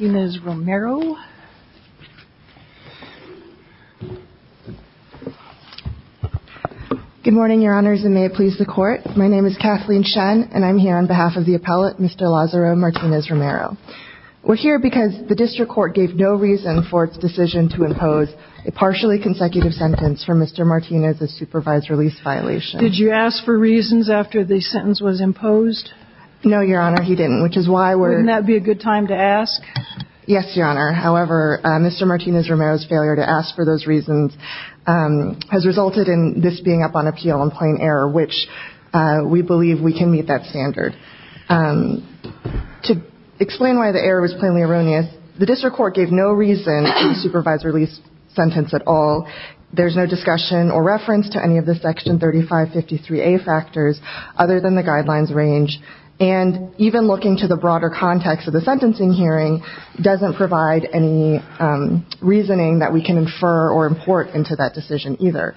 Good morning, your honors, and may it please the court. My name is Kathleen Shen, and I'm here on behalf of the appellate, Mr. Lazaro Martinez Romero. We're here because the district court gave no reason for its decision to impose a partially consecutive sentence for Mr. Martinez's supervised release violation. Did you ask for reasons after the sentence was imposed? No, your honor, he didn't, which is why we're... Wouldn't that be a good time to ask? Yes, your honor. However, Mr. Martinez Romero's failure to ask for those reasons has resulted in this being up on appeal on plain error, which we believe we can meet that standard. To explain why the error was plainly erroneous, the district court gave no reason for the supervised release sentence at all. There's no discussion or reference to any of the section 3553A factors other than the guidelines range, and even looking to the broader context of the sentencing hearing doesn't provide any reasoning that we can infer or import into that decision either.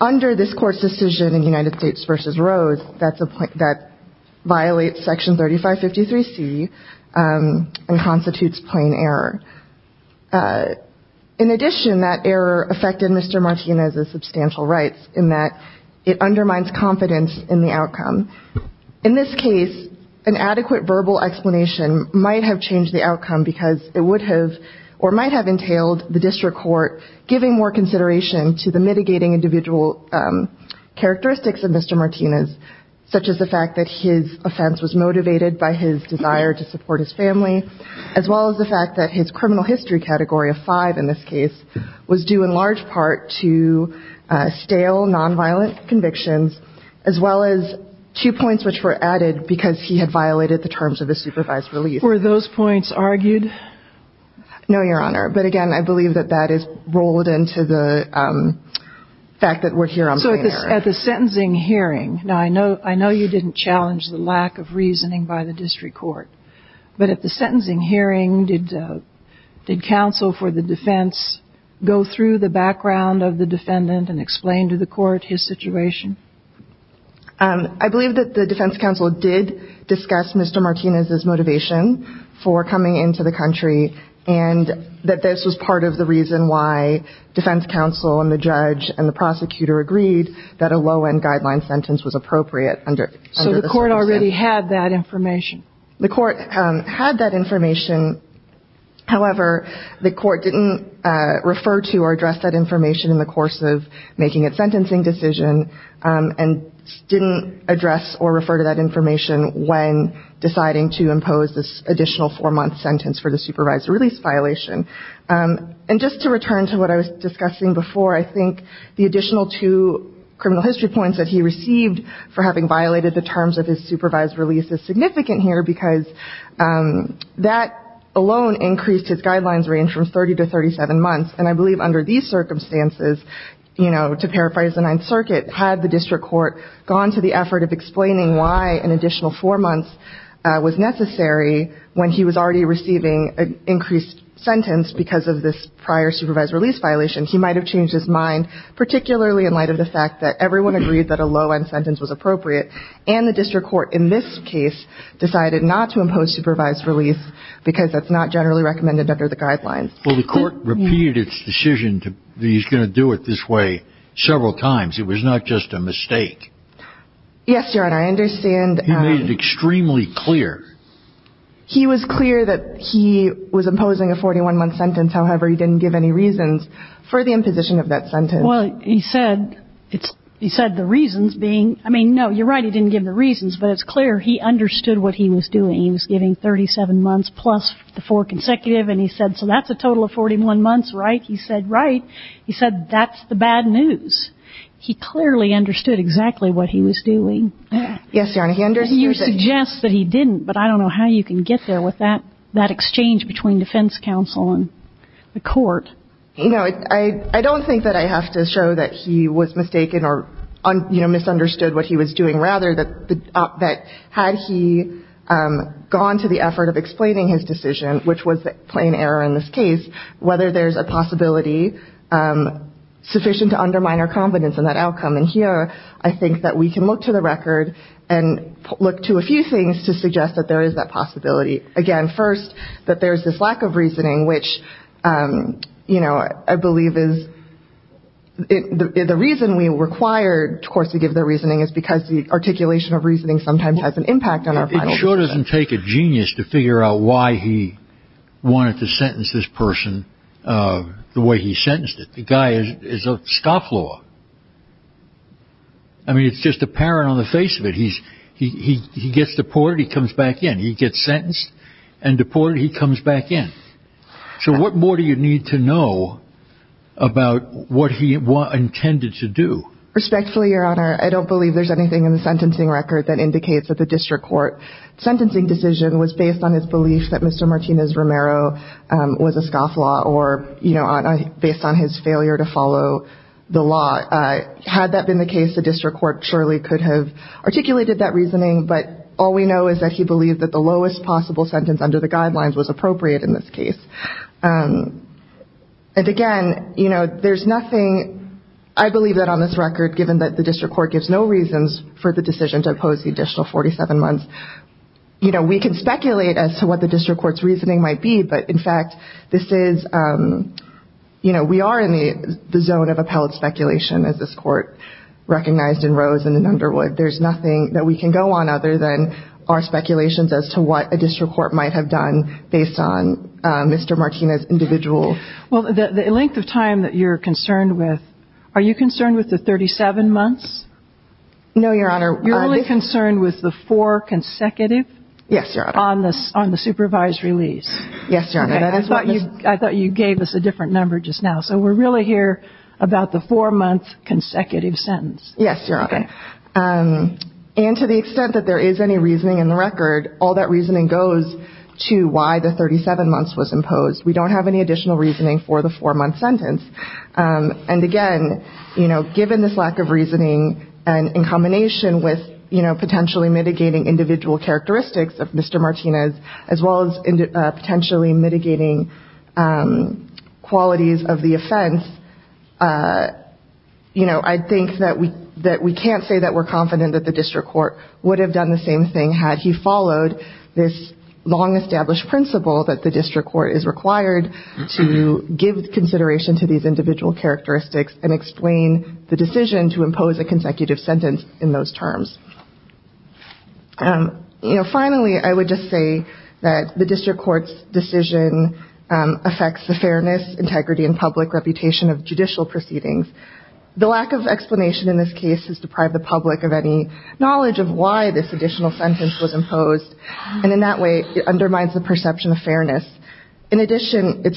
Under this court's decision in United States v. Rose, that violates section 3553C and constitutes plain error. In addition, that error affected Mr. Martinez's substantial rights in that it undermines confidence in the outcome. In this case, an adequate verbal explanation might have changed the outcome because it would have or might have entailed the district court giving more consideration to the mitigating individual characteristics of Mr. Martinez, such as the fact that his offense was motivated by his desire to support his family, as well as the fact that his criminal history category of five in this case was due in large part to stale, nonviolent convictions, as well as to the fact that he was a convicted felon. Two points which were added because he had violated the terms of the supervised release. Were those points argued? No, Your Honor. But, again, I believe that that is rolled into the fact that we're here on plain error. So at the sentencing hearing, now, I know you didn't challenge the lack of reasoning by the district court, but at the sentencing hearing, did counsel for the defense go through the background of the defendant and explain to the court his situation? I believe that the defense counsel did discuss Mr. Martinez's motivation for coming into the country and that this was part of the reason why defense counsel and the judge and the prosecutor agreed that a low-end guideline sentence was appropriate under the sentencing. So the court already had that information? The court had that information. However, the court didn't refer to or address that information in the course of making its sentencing decision and didn't address or refer to that information when deciding to impose this additional four-month sentence for the supervised release violation. And just to return to what I was discussing before, I think the additional two criminal history points that he received for having violated the terms of his supervised release is significant here because that alone increased his guidelines range from 30 to 37 months. And I believe under these circumstances, you know, to paraphrase the Ninth Circuit, had the district court gone to the effort of explaining why an additional four months was necessary when he was already receiving an increased sentence because of this prior supervised release violation, he might have changed his mind, particularly in light of the fact that everyone agreed that a low-end sentence was appropriate, and the district court in this case decided not to impose supervised release because that's not generally recommended under the guidelines. Well, the court repeated its decision that he was going to do it this way several times. It was not just a mistake. Yes, Your Honor, I understand. He made it extremely clear. He was clear that he was imposing a 41-month sentence. However, he didn't give any reasons for the imposition of that sentence. Well, he said the reasons being – I mean, no, you're right, he didn't give the reasons, but it's clear he understood what he was doing. He was giving 37 months plus the four consecutive, and he said, so that's a total of 41 months, right? He said, right. He said that's the bad news. He clearly understood exactly what he was doing. Yes, Your Honor, he understood. And you suggest that he didn't, but I don't know how you can get there with that exchange between defense counsel and the court. You know, I don't think that I have to show that he was mistaken or, you know, misunderstood what he was doing. Rather, that had he gone to the effort of explaining his decision, which was a plain error in this case, whether there's a possibility sufficient to undermine our confidence in that outcome. And here, I think that we can look to the record and look to a few things to suggest that there is that possibility. Again, first, that there's this lack of reasoning, which, you know, I believe is – the reason we require courts to give their reasoning is because the articulation of reasoning sometimes has an impact on our final decision. It sure doesn't take a genius to figure out why he wanted to sentence this person the way he sentenced it. The guy is a scofflaw. I mean, it's just apparent on the face of it. He gets deported. He comes back in. He gets sentenced and deported. He comes back in. So what more do you need to know about what he intended to do? Respectfully, Your Honor, I don't believe there's anything in the sentencing record that indicates that the district court's sentencing decision was based on his belief that Mr. Martinez-Romero was a scofflaw or, you know, based on his failure to follow the law. Had that been the case, the district court surely could have articulated that reasoning. But all we know is that he believed that the lowest possible sentence under the guidelines was appropriate in this case. And, again, you know, there's nothing – I believe that on this record, given that the district court gives no reasons for the decision to oppose the additional 47 months, you know, we can speculate as to what the district court's reasoning might be. But, in fact, this is – you know, we are in the zone of appellate speculation, as this court recognized in Rose and in Underwood. There's nothing that we can go on other than our speculations as to what a district court might have done based on Mr. Martinez' individual – Well, the length of time that you're concerned with – are you concerned with the 37 months? No, Your Honor. You're only concerned with the four consecutive? Yes, Your Honor. On the supervised release. Yes, Your Honor. I thought you gave us a different number just now. Yes, Your Honor. Okay. And to the extent that there is any reasoning in the record, all that reasoning goes to why the 37 months was imposed. We don't have any additional reasoning for the four-month sentence. And, again, you know, given this lack of reasoning and in combination with, you know, potentially mitigating individual characteristics of Mr. Martinez as well as potentially mitigating qualities of the offense, you know, I think that we can't say that we're confident that the district court would have done the same thing had he followed this long-established principle that the district court is required to give consideration to these individual characteristics and explain the decision to impose a consecutive sentence in those terms. You know, finally, I would just say that the district court's decision affects the fairness, integrity, and public reputation of judicial proceedings. The lack of explanation in this case has deprived the public of any knowledge of why this additional sentence was imposed, and in that way it undermines the perception of fairness. In addition, it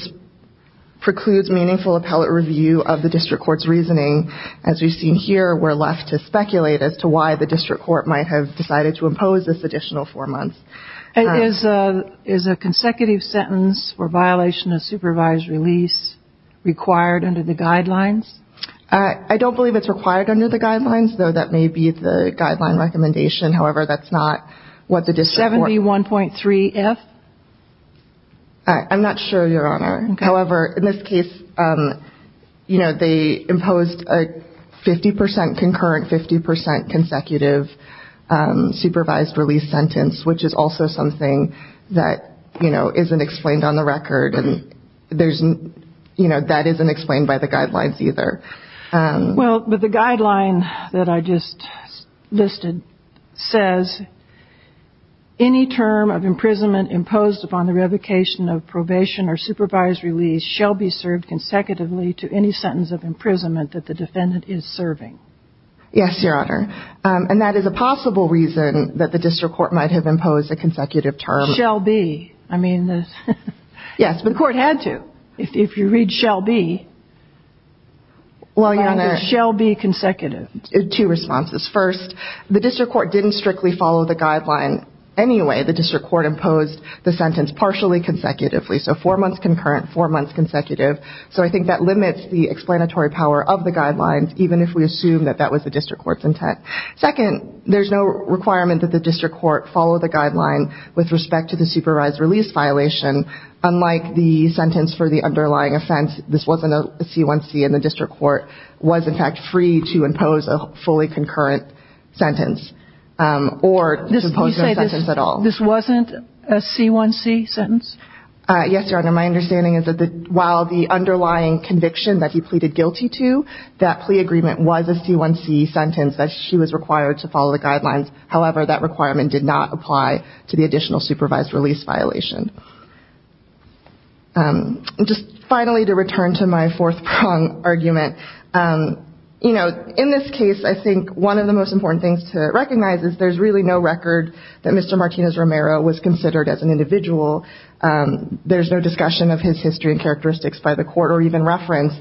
precludes meaningful appellate review of the district court's reasoning. As we've seen here, we're left to speculate as to why the district court might have decided to impose this additional four months. And is a consecutive sentence or violation of supervised release required under the guidelines? I don't believe it's required under the guidelines, though that may be the guideline recommendation. However, that's not what the district court... 71.3 if? I'm not sure, Your Honor. Okay. However, in this case, you know, they imposed a 50 percent concurrent, 50 percent consecutive supervised release sentence, which is also something that, you know, isn't explained on the record. And, you know, that isn't explained by the guidelines either. Well, but the guideline that I just listed says, any term of imprisonment imposed upon the revocation of probation or supervised release shall be served consecutively to any sentence of imprisonment that the defendant is serving. Yes, Your Honor. And that is a possible reason that the district court might have imposed a consecutive term. Shall be. I mean, the court had to. If you read shall be, it's shall be consecutive. Two responses. First, the district court didn't strictly follow the guideline anyway. The district court imposed the sentence partially consecutively. So four months concurrent, four months consecutive. So I think that limits the explanatory power of the guidelines, even if we assume that that was the district court's intent. Second, there's no requirement that the district court follow the guideline with respect to the supervised release violation, unlike the sentence for the underlying offense. This wasn't a C1C. And the district court was, in fact, free to impose a fully concurrent sentence or to impose no sentence at all. This wasn't a C1C sentence? Yes, Your Honor. My understanding is that while the underlying conviction that he pleaded guilty to, that plea agreement was a C1C sentence that she was required to follow the guidelines. However, that requirement did not apply to the additional supervised release violation. Just finally to return to my fourth prong argument, you know, in this case, I think one of the most important things to recognize is there's really no record that Mr. Martinez-Romero was considered as an individual. There's no discussion of his history and characteristics by the court or even reference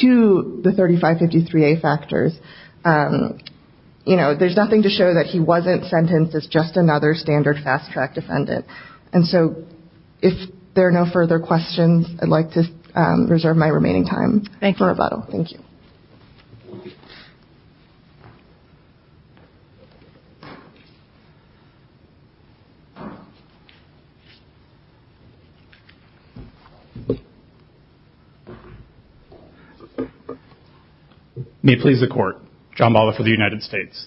to the 3553A factors. You know, there's nothing to show that he wasn't sentenced as just another standard fast-track defendant. And so if there are no further questions, I'd like to reserve my remaining time for rebuttal. Thank you. Thank you. May it please the court. John Bala for the United States.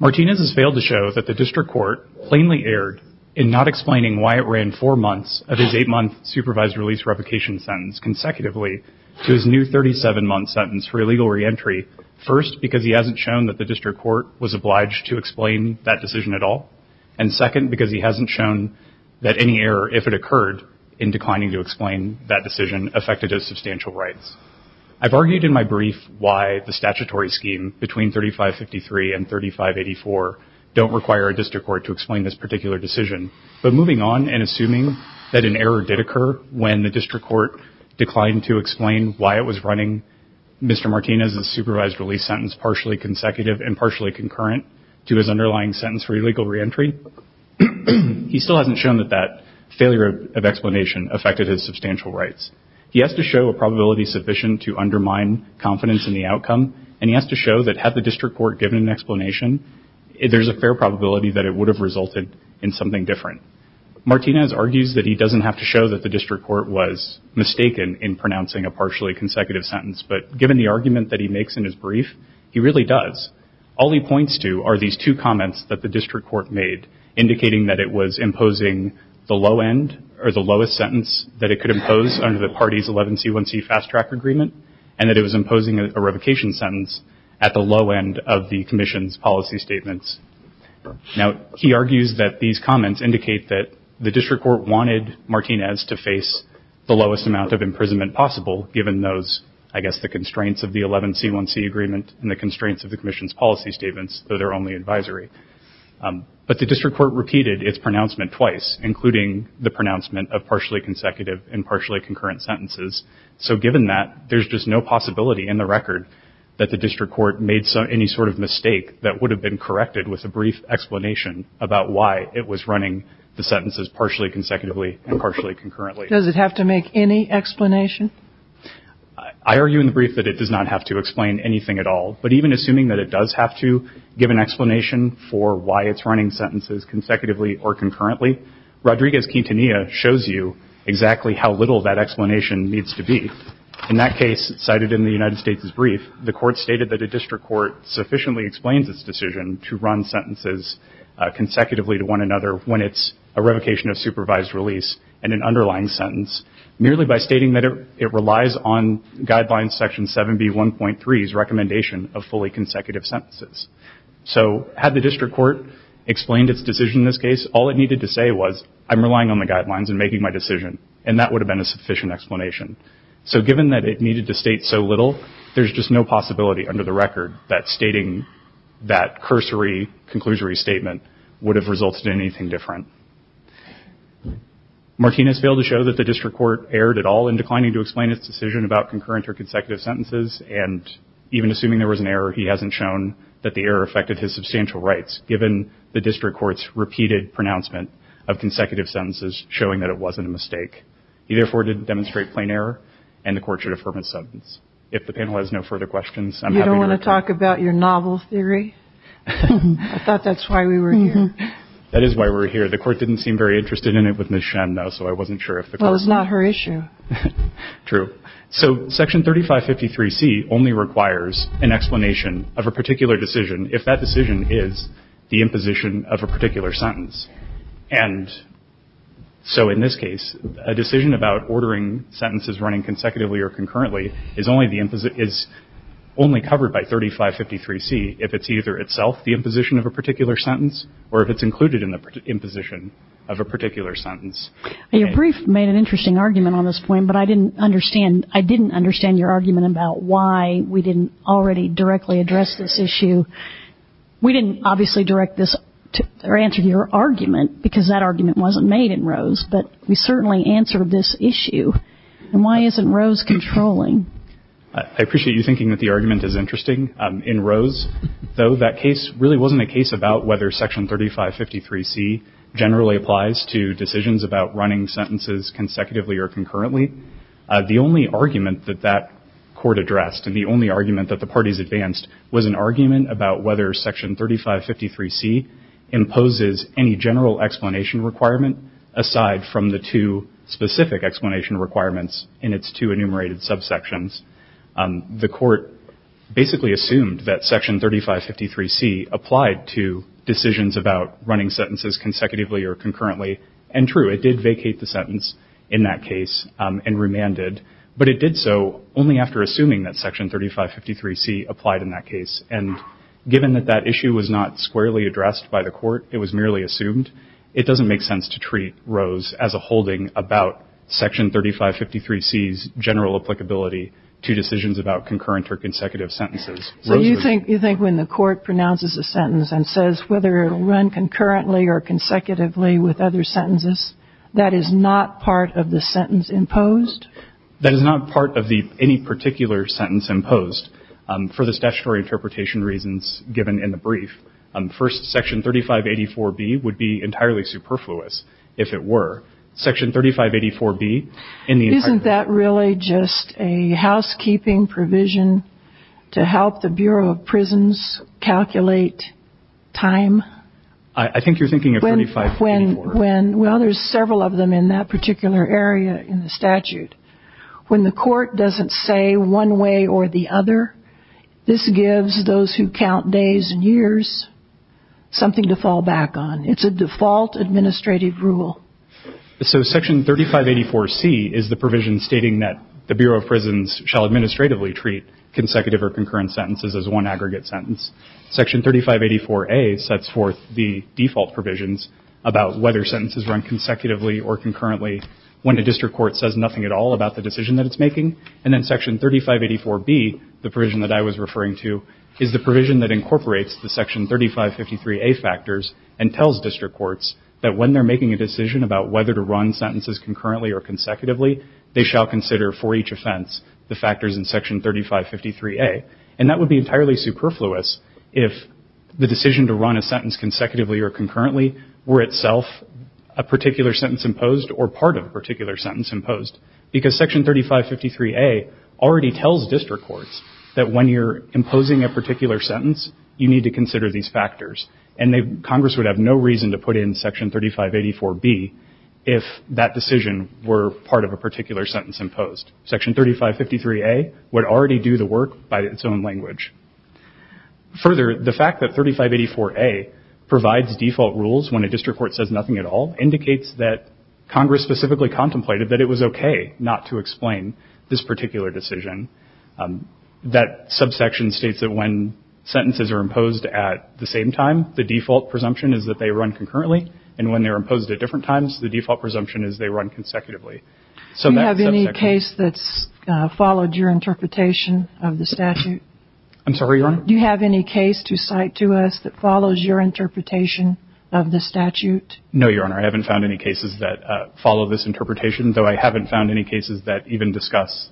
Martinez has failed to show that the district court plainly erred in not explaining why it ran four months of his eight-month supervised release replication sentence consecutively to his new 37-month sentence for illegal reentry. First, because he hasn't shown that the district court was obliged to explain that decision at all. And second, because he hasn't shown that any error, if it occurred, in declining to explain that decision affected his substantial rights. I've argued in my brief why the statutory scheme between 3553 and 3584 don't require a district court to explain this particular decision. But moving on and assuming that an error did occur when the district court declined to explain why it was running Mr. Martinez's supervised release sentence partially consecutive and partially concurrent to his underlying sentence for illegal reentry, he still hasn't shown that that failure of explanation affected his substantial rights. He has to show a probability sufficient to undermine confidence in the outcome, and he has to show that had the district court given an explanation, there's a fair probability that it would have resulted in something different. Martinez argues that he doesn't have to show that the district court was mistaken in pronouncing a partially consecutive sentence, but given the argument that he makes in his brief, he really does. All he points to are these two comments that the district court made, indicating that it was imposing the lowest sentence that it could impose under the party's 11C1C fast-track agreement, and that it was imposing a revocation sentence at the low end of the commission's policy statements. Now, he argues that these comments indicate that the district court wanted Martinez to face the lowest amount of imprisonment possible, given those, I guess, the constraints of the 11C1C agreement and the constraints of the commission's policy statements, though they're only advisory. But the district court repeated its pronouncement twice, including the pronouncement of partially consecutive and partially concurrent sentences. So given that, there's just no possibility in the record that the district court made any sort of mistake that would have been corrected with a brief explanation about why it was running the sentences partially consecutively and partially concurrently. Does it have to make any explanation? I argue in the brief that it does not have to explain anything at all, but even assuming that it does have to give an explanation for why it's running sentences consecutively or concurrently, Rodriguez-Quintanilla shows you exactly how little that explanation needs to be. In that case, cited in the United States' brief, the court stated that a district court sufficiently explains its decision to run sentences consecutively to one another when it's a revocation of supervised release and an underlying sentence, merely by stating that it relies on Guidelines Section 7B1.3's recommendation of fully consecutive sentences. So had the district court explained its decision in this case, all it needed to say was, I'm relying on the guidelines in making my decision, and that would have been a sufficient explanation. So given that it needed to state so little, there's just no possibility under the record that stating that cursory, conclusory statement would have resulted in anything different. Martinez failed to show that the district court erred at all in declining to explain its decision about concurrent or consecutive sentences, and even assuming there was an error, he hasn't shown that the error affected his substantial rights, given the district court's repeated pronouncement of consecutive sentences, showing that it wasn't a mistake. He, therefore, didn't demonstrate plain error, and the court should affirm his sentence. If the panel has no further questions, I'm happy to respond. You don't want to talk about your novel theory? I thought that's why we were here. That is why we're here. The court didn't seem very interested in it with Ms. Shen, though, so I wasn't sure if the court… Well, it's not her issue. True. So Section 3553C only requires an explanation of a particular decision. If that decision is the imposition of a particular sentence, and so in this case a decision about ordering sentences running consecutively or concurrently is only covered by 3553C if it's either itself the imposition of a particular sentence or if it's included in the imposition of a particular sentence. Your brief made an interesting argument on this point, but I didn't understand your argument about why we didn't already directly address this issue We didn't obviously direct this or answer your argument because that argument wasn't made in Rose, but we certainly answered this issue. And why isn't Rose controlling? I appreciate you thinking that the argument is interesting. In Rose, though, that case really wasn't a case about whether Section 3553C generally applies to decisions about running sentences consecutively or concurrently. The only argument that that court addressed and the only argument that the parties advanced was an argument about whether Section 3553C imposes any general explanation requirement aside from the two specific explanation requirements in its two enumerated subsections. The court basically assumed that Section 3553C applied to decisions about running sentences consecutively or concurrently, and true, it did vacate the sentence in that case and remanded, but it did so only after assuming that Section 3553C applied in that case. And given that that issue was not squarely addressed by the court, it was merely assumed, it doesn't make sense to treat Rose as a holding about Section 3553C's general applicability to decisions about concurrent or consecutive sentences. So you think when the court pronounces a sentence and says whether it'll run concurrently or consecutively with other sentences, that is not part of the sentence imposed? That is not part of any particular sentence imposed for the statutory interpretation reasons given in the brief. First, Section 3584B would be entirely superfluous, if it were. Section 3584B in the entirety of the statute. Isn't that really just a housekeeping provision to help the Bureau of Prisons calculate time? I think you're thinking of 3584. Well, there's several of them in that particular area in the statute. When the court doesn't say one way or the other, this gives those who count days and years something to fall back on. It's a default administrative rule. So Section 3584C is the provision stating that the Bureau of Prisons shall administratively treat consecutive or concurrent sentences as one aggregate sentence. Section 3584A sets forth the default provisions about whether sentences run consecutively or concurrently when a district court says nothing at all about the decision that it's making. And then Section 3584B, the provision that I was referring to, is the provision that incorporates the Section 3553A factors and tells district courts that when they're making a decision about whether to run sentences concurrently or consecutively, they shall consider for each offense the factors in Section 3553A. And that would be entirely superfluous if the decision to run a sentence consecutively or concurrently were itself a particular sentence imposed or part of a particular sentence imposed. Because Section 3553A already tells district courts that when you're imposing a particular sentence, you need to consider these factors. And Congress would have no reason to put in Section 3584B if that decision were part of a particular sentence imposed. Section 3553A would already do the work by its own language. Further, the fact that 3584A provides default rules when a district court says nothing at all indicates that Congress specifically contemplated that it was okay not to explain this particular decision. That subsection states that when sentences are imposed at the same time, the default presumption is that they run concurrently. And when they're imposed at different times, the default presumption is they run consecutively. Do you have any case that's followed your interpretation of the statute? I'm sorry, Your Honor? Do you have any case to cite to us that follows your interpretation of the statute? No, Your Honor. I haven't found any cases that follow this interpretation, though I haven't found any cases that even discuss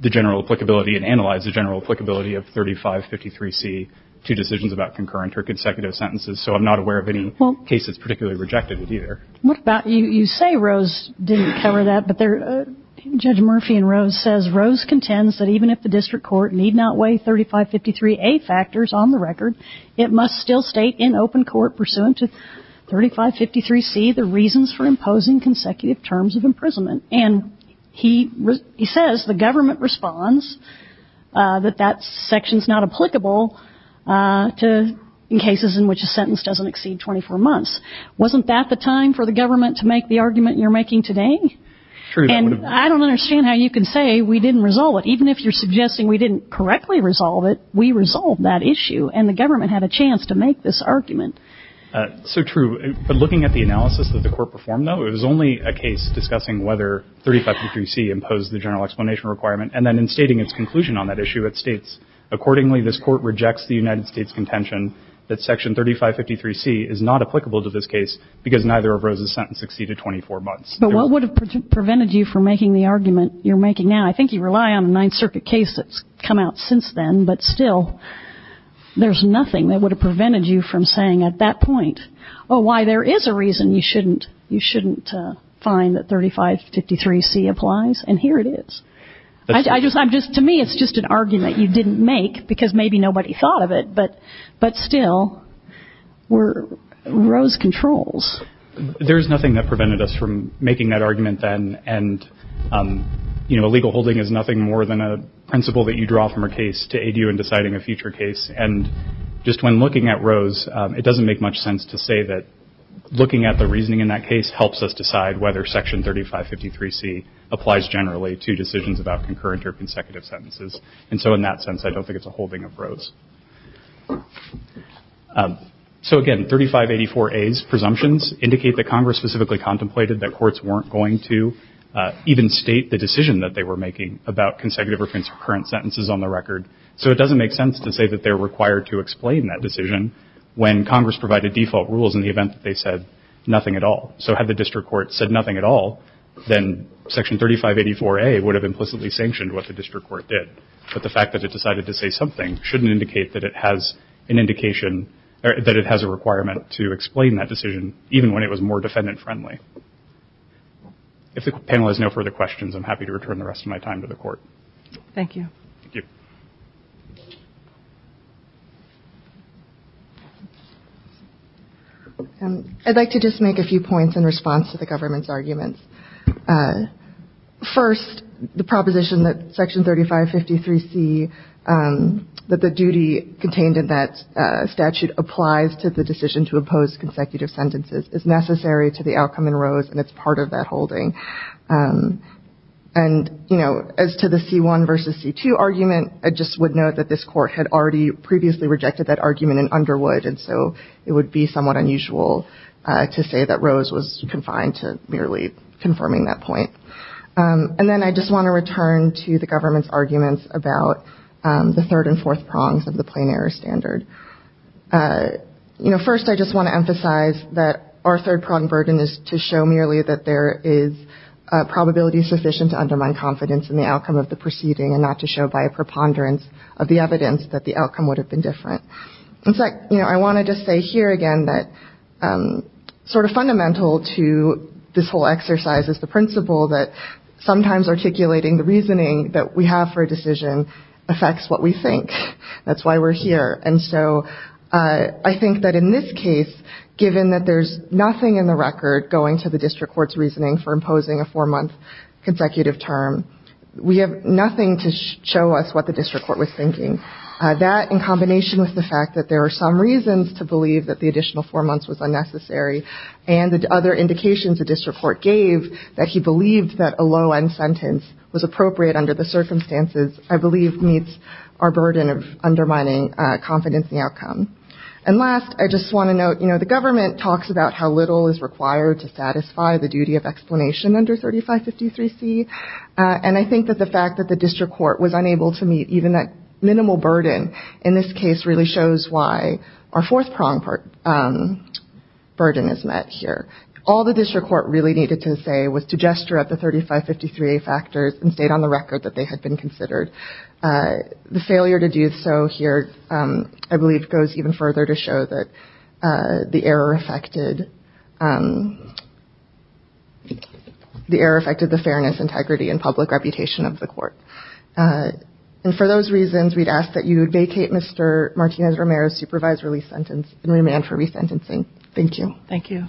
the general applicability and analyze the general applicability of 3553C to decisions about concurrent or consecutive sentences. So I'm not aware of any case that's particularly rejected it either. You say Rose didn't cover that, but Judge Murphy in Rose says, Rose contends that even if the district court need not weigh 3553A factors on the record, it must still state in open court pursuant to 3553C the reasons for imposing consecutive terms of imprisonment. And he says the government responds that that section is not applicable to cases in which a sentence doesn't exceed 24 months. Wasn't that the time for the government to make the argument you're making today? True. And I don't understand how you can say we didn't resolve it. Even if you're suggesting we didn't correctly resolve it, we resolved that issue, and the government had a chance to make this argument. So true. But looking at the analysis that the court performed, though, it was only a case discussing whether 3553C imposed the general explanation requirement and then in stating its conclusion on that issue, it states, Accordingly, this court rejects the United States contention that section 3553C is not applicable to this case because neither of Rose's sentences exceeded 24 months. But what would have prevented you from making the argument you're making now? I think you rely on a Ninth Circuit case that's come out since then, but still there's nothing that would have prevented you from saying at that point, oh, why, there is a reason you shouldn't find that 3553C applies, and here it is. To me, it's just an argument you didn't make because maybe nobody thought of it, but still, Rose controls. There's nothing that prevented us from making that argument then, and a legal holding is nothing more than a principle that you draw from a case to aid you in deciding a future case. And just when looking at Rose, it doesn't make much sense to say that looking at the reasoning in that case helps us decide whether section 3553C applies generally to decisions about concurrent or consecutive sentences. And so in that sense, I don't think it's a holding of Rose. So again, 3584A's presumptions indicate that Congress specifically contemplated that courts weren't going to even state the decision that they were making about consecutive or concurrent sentences on the record. So it doesn't make sense to say that they're required to explain that decision when Congress provided default rules in the event that they said nothing at all. So had the district court said nothing at all, then section 3584A would have implicitly sanctioned what the district court did. But the fact that it decided to say something shouldn't indicate that it has an indication that it has a requirement to explain that decision, even when it was more defendant friendly. If the panel has no further questions, I'm happy to return the rest of my time to the court. Thank you. I'd like to just make a few points in response to the government's arguments. First, the proposition that section 3553C, that the duty contained in that statute applies to the decision to impose consecutive sentences, is necessary to the outcome in Rose, and it's part of that holding. And as to the C1 versus C2 argument, I just would note that this court had already previously rejected that argument in Underwood, and so it would be somewhat unusual to say that Rose was confined to merely confirming that point. And then I just want to return to the government's arguments about the third and fourth prongs of the plain error standard. First, I just want to emphasize that our third prong burden is to show merely that there is a probability sufficient to undermine confidence in the outcome of the proceeding, and not to show by a preponderance of the evidence that the outcome would have been different. I want to just say here again that sort of fundamental to this whole exercise is the principle that sometimes articulating the reasoning that we have for a decision affects what we think. That's why we're here. And so I think that in this case, given that there's nothing in the record going to the district court's reasoning for imposing a four-month consecutive term, we have nothing to show us what the district court was thinking. That, in combination with the fact that there are some reasons to believe that the additional four months was unnecessary, and the other indications the district court gave that he believed that a low-end sentence was appropriate under the circumstances, I believe, meets our burden of undermining confidence in the outcome. And last, I just want to note, you know, the government talks about how little is required to satisfy the duty of explanation under 3553C, and I think that the fact that the district court was unable to meet even that minimal burden in this case really shows why our fourth prong burden is met here. All the district court really needed to say was to gesture up the 3553A factors and state on the record that they had been considered. The failure to do so here, I believe, goes even further to show that the error affected the fairness, integrity, and public reputation of the court. And for those reasons, we'd ask that you vacate Mr. Martinez-Romero's supervised release sentence and remand for resentencing. Thank you.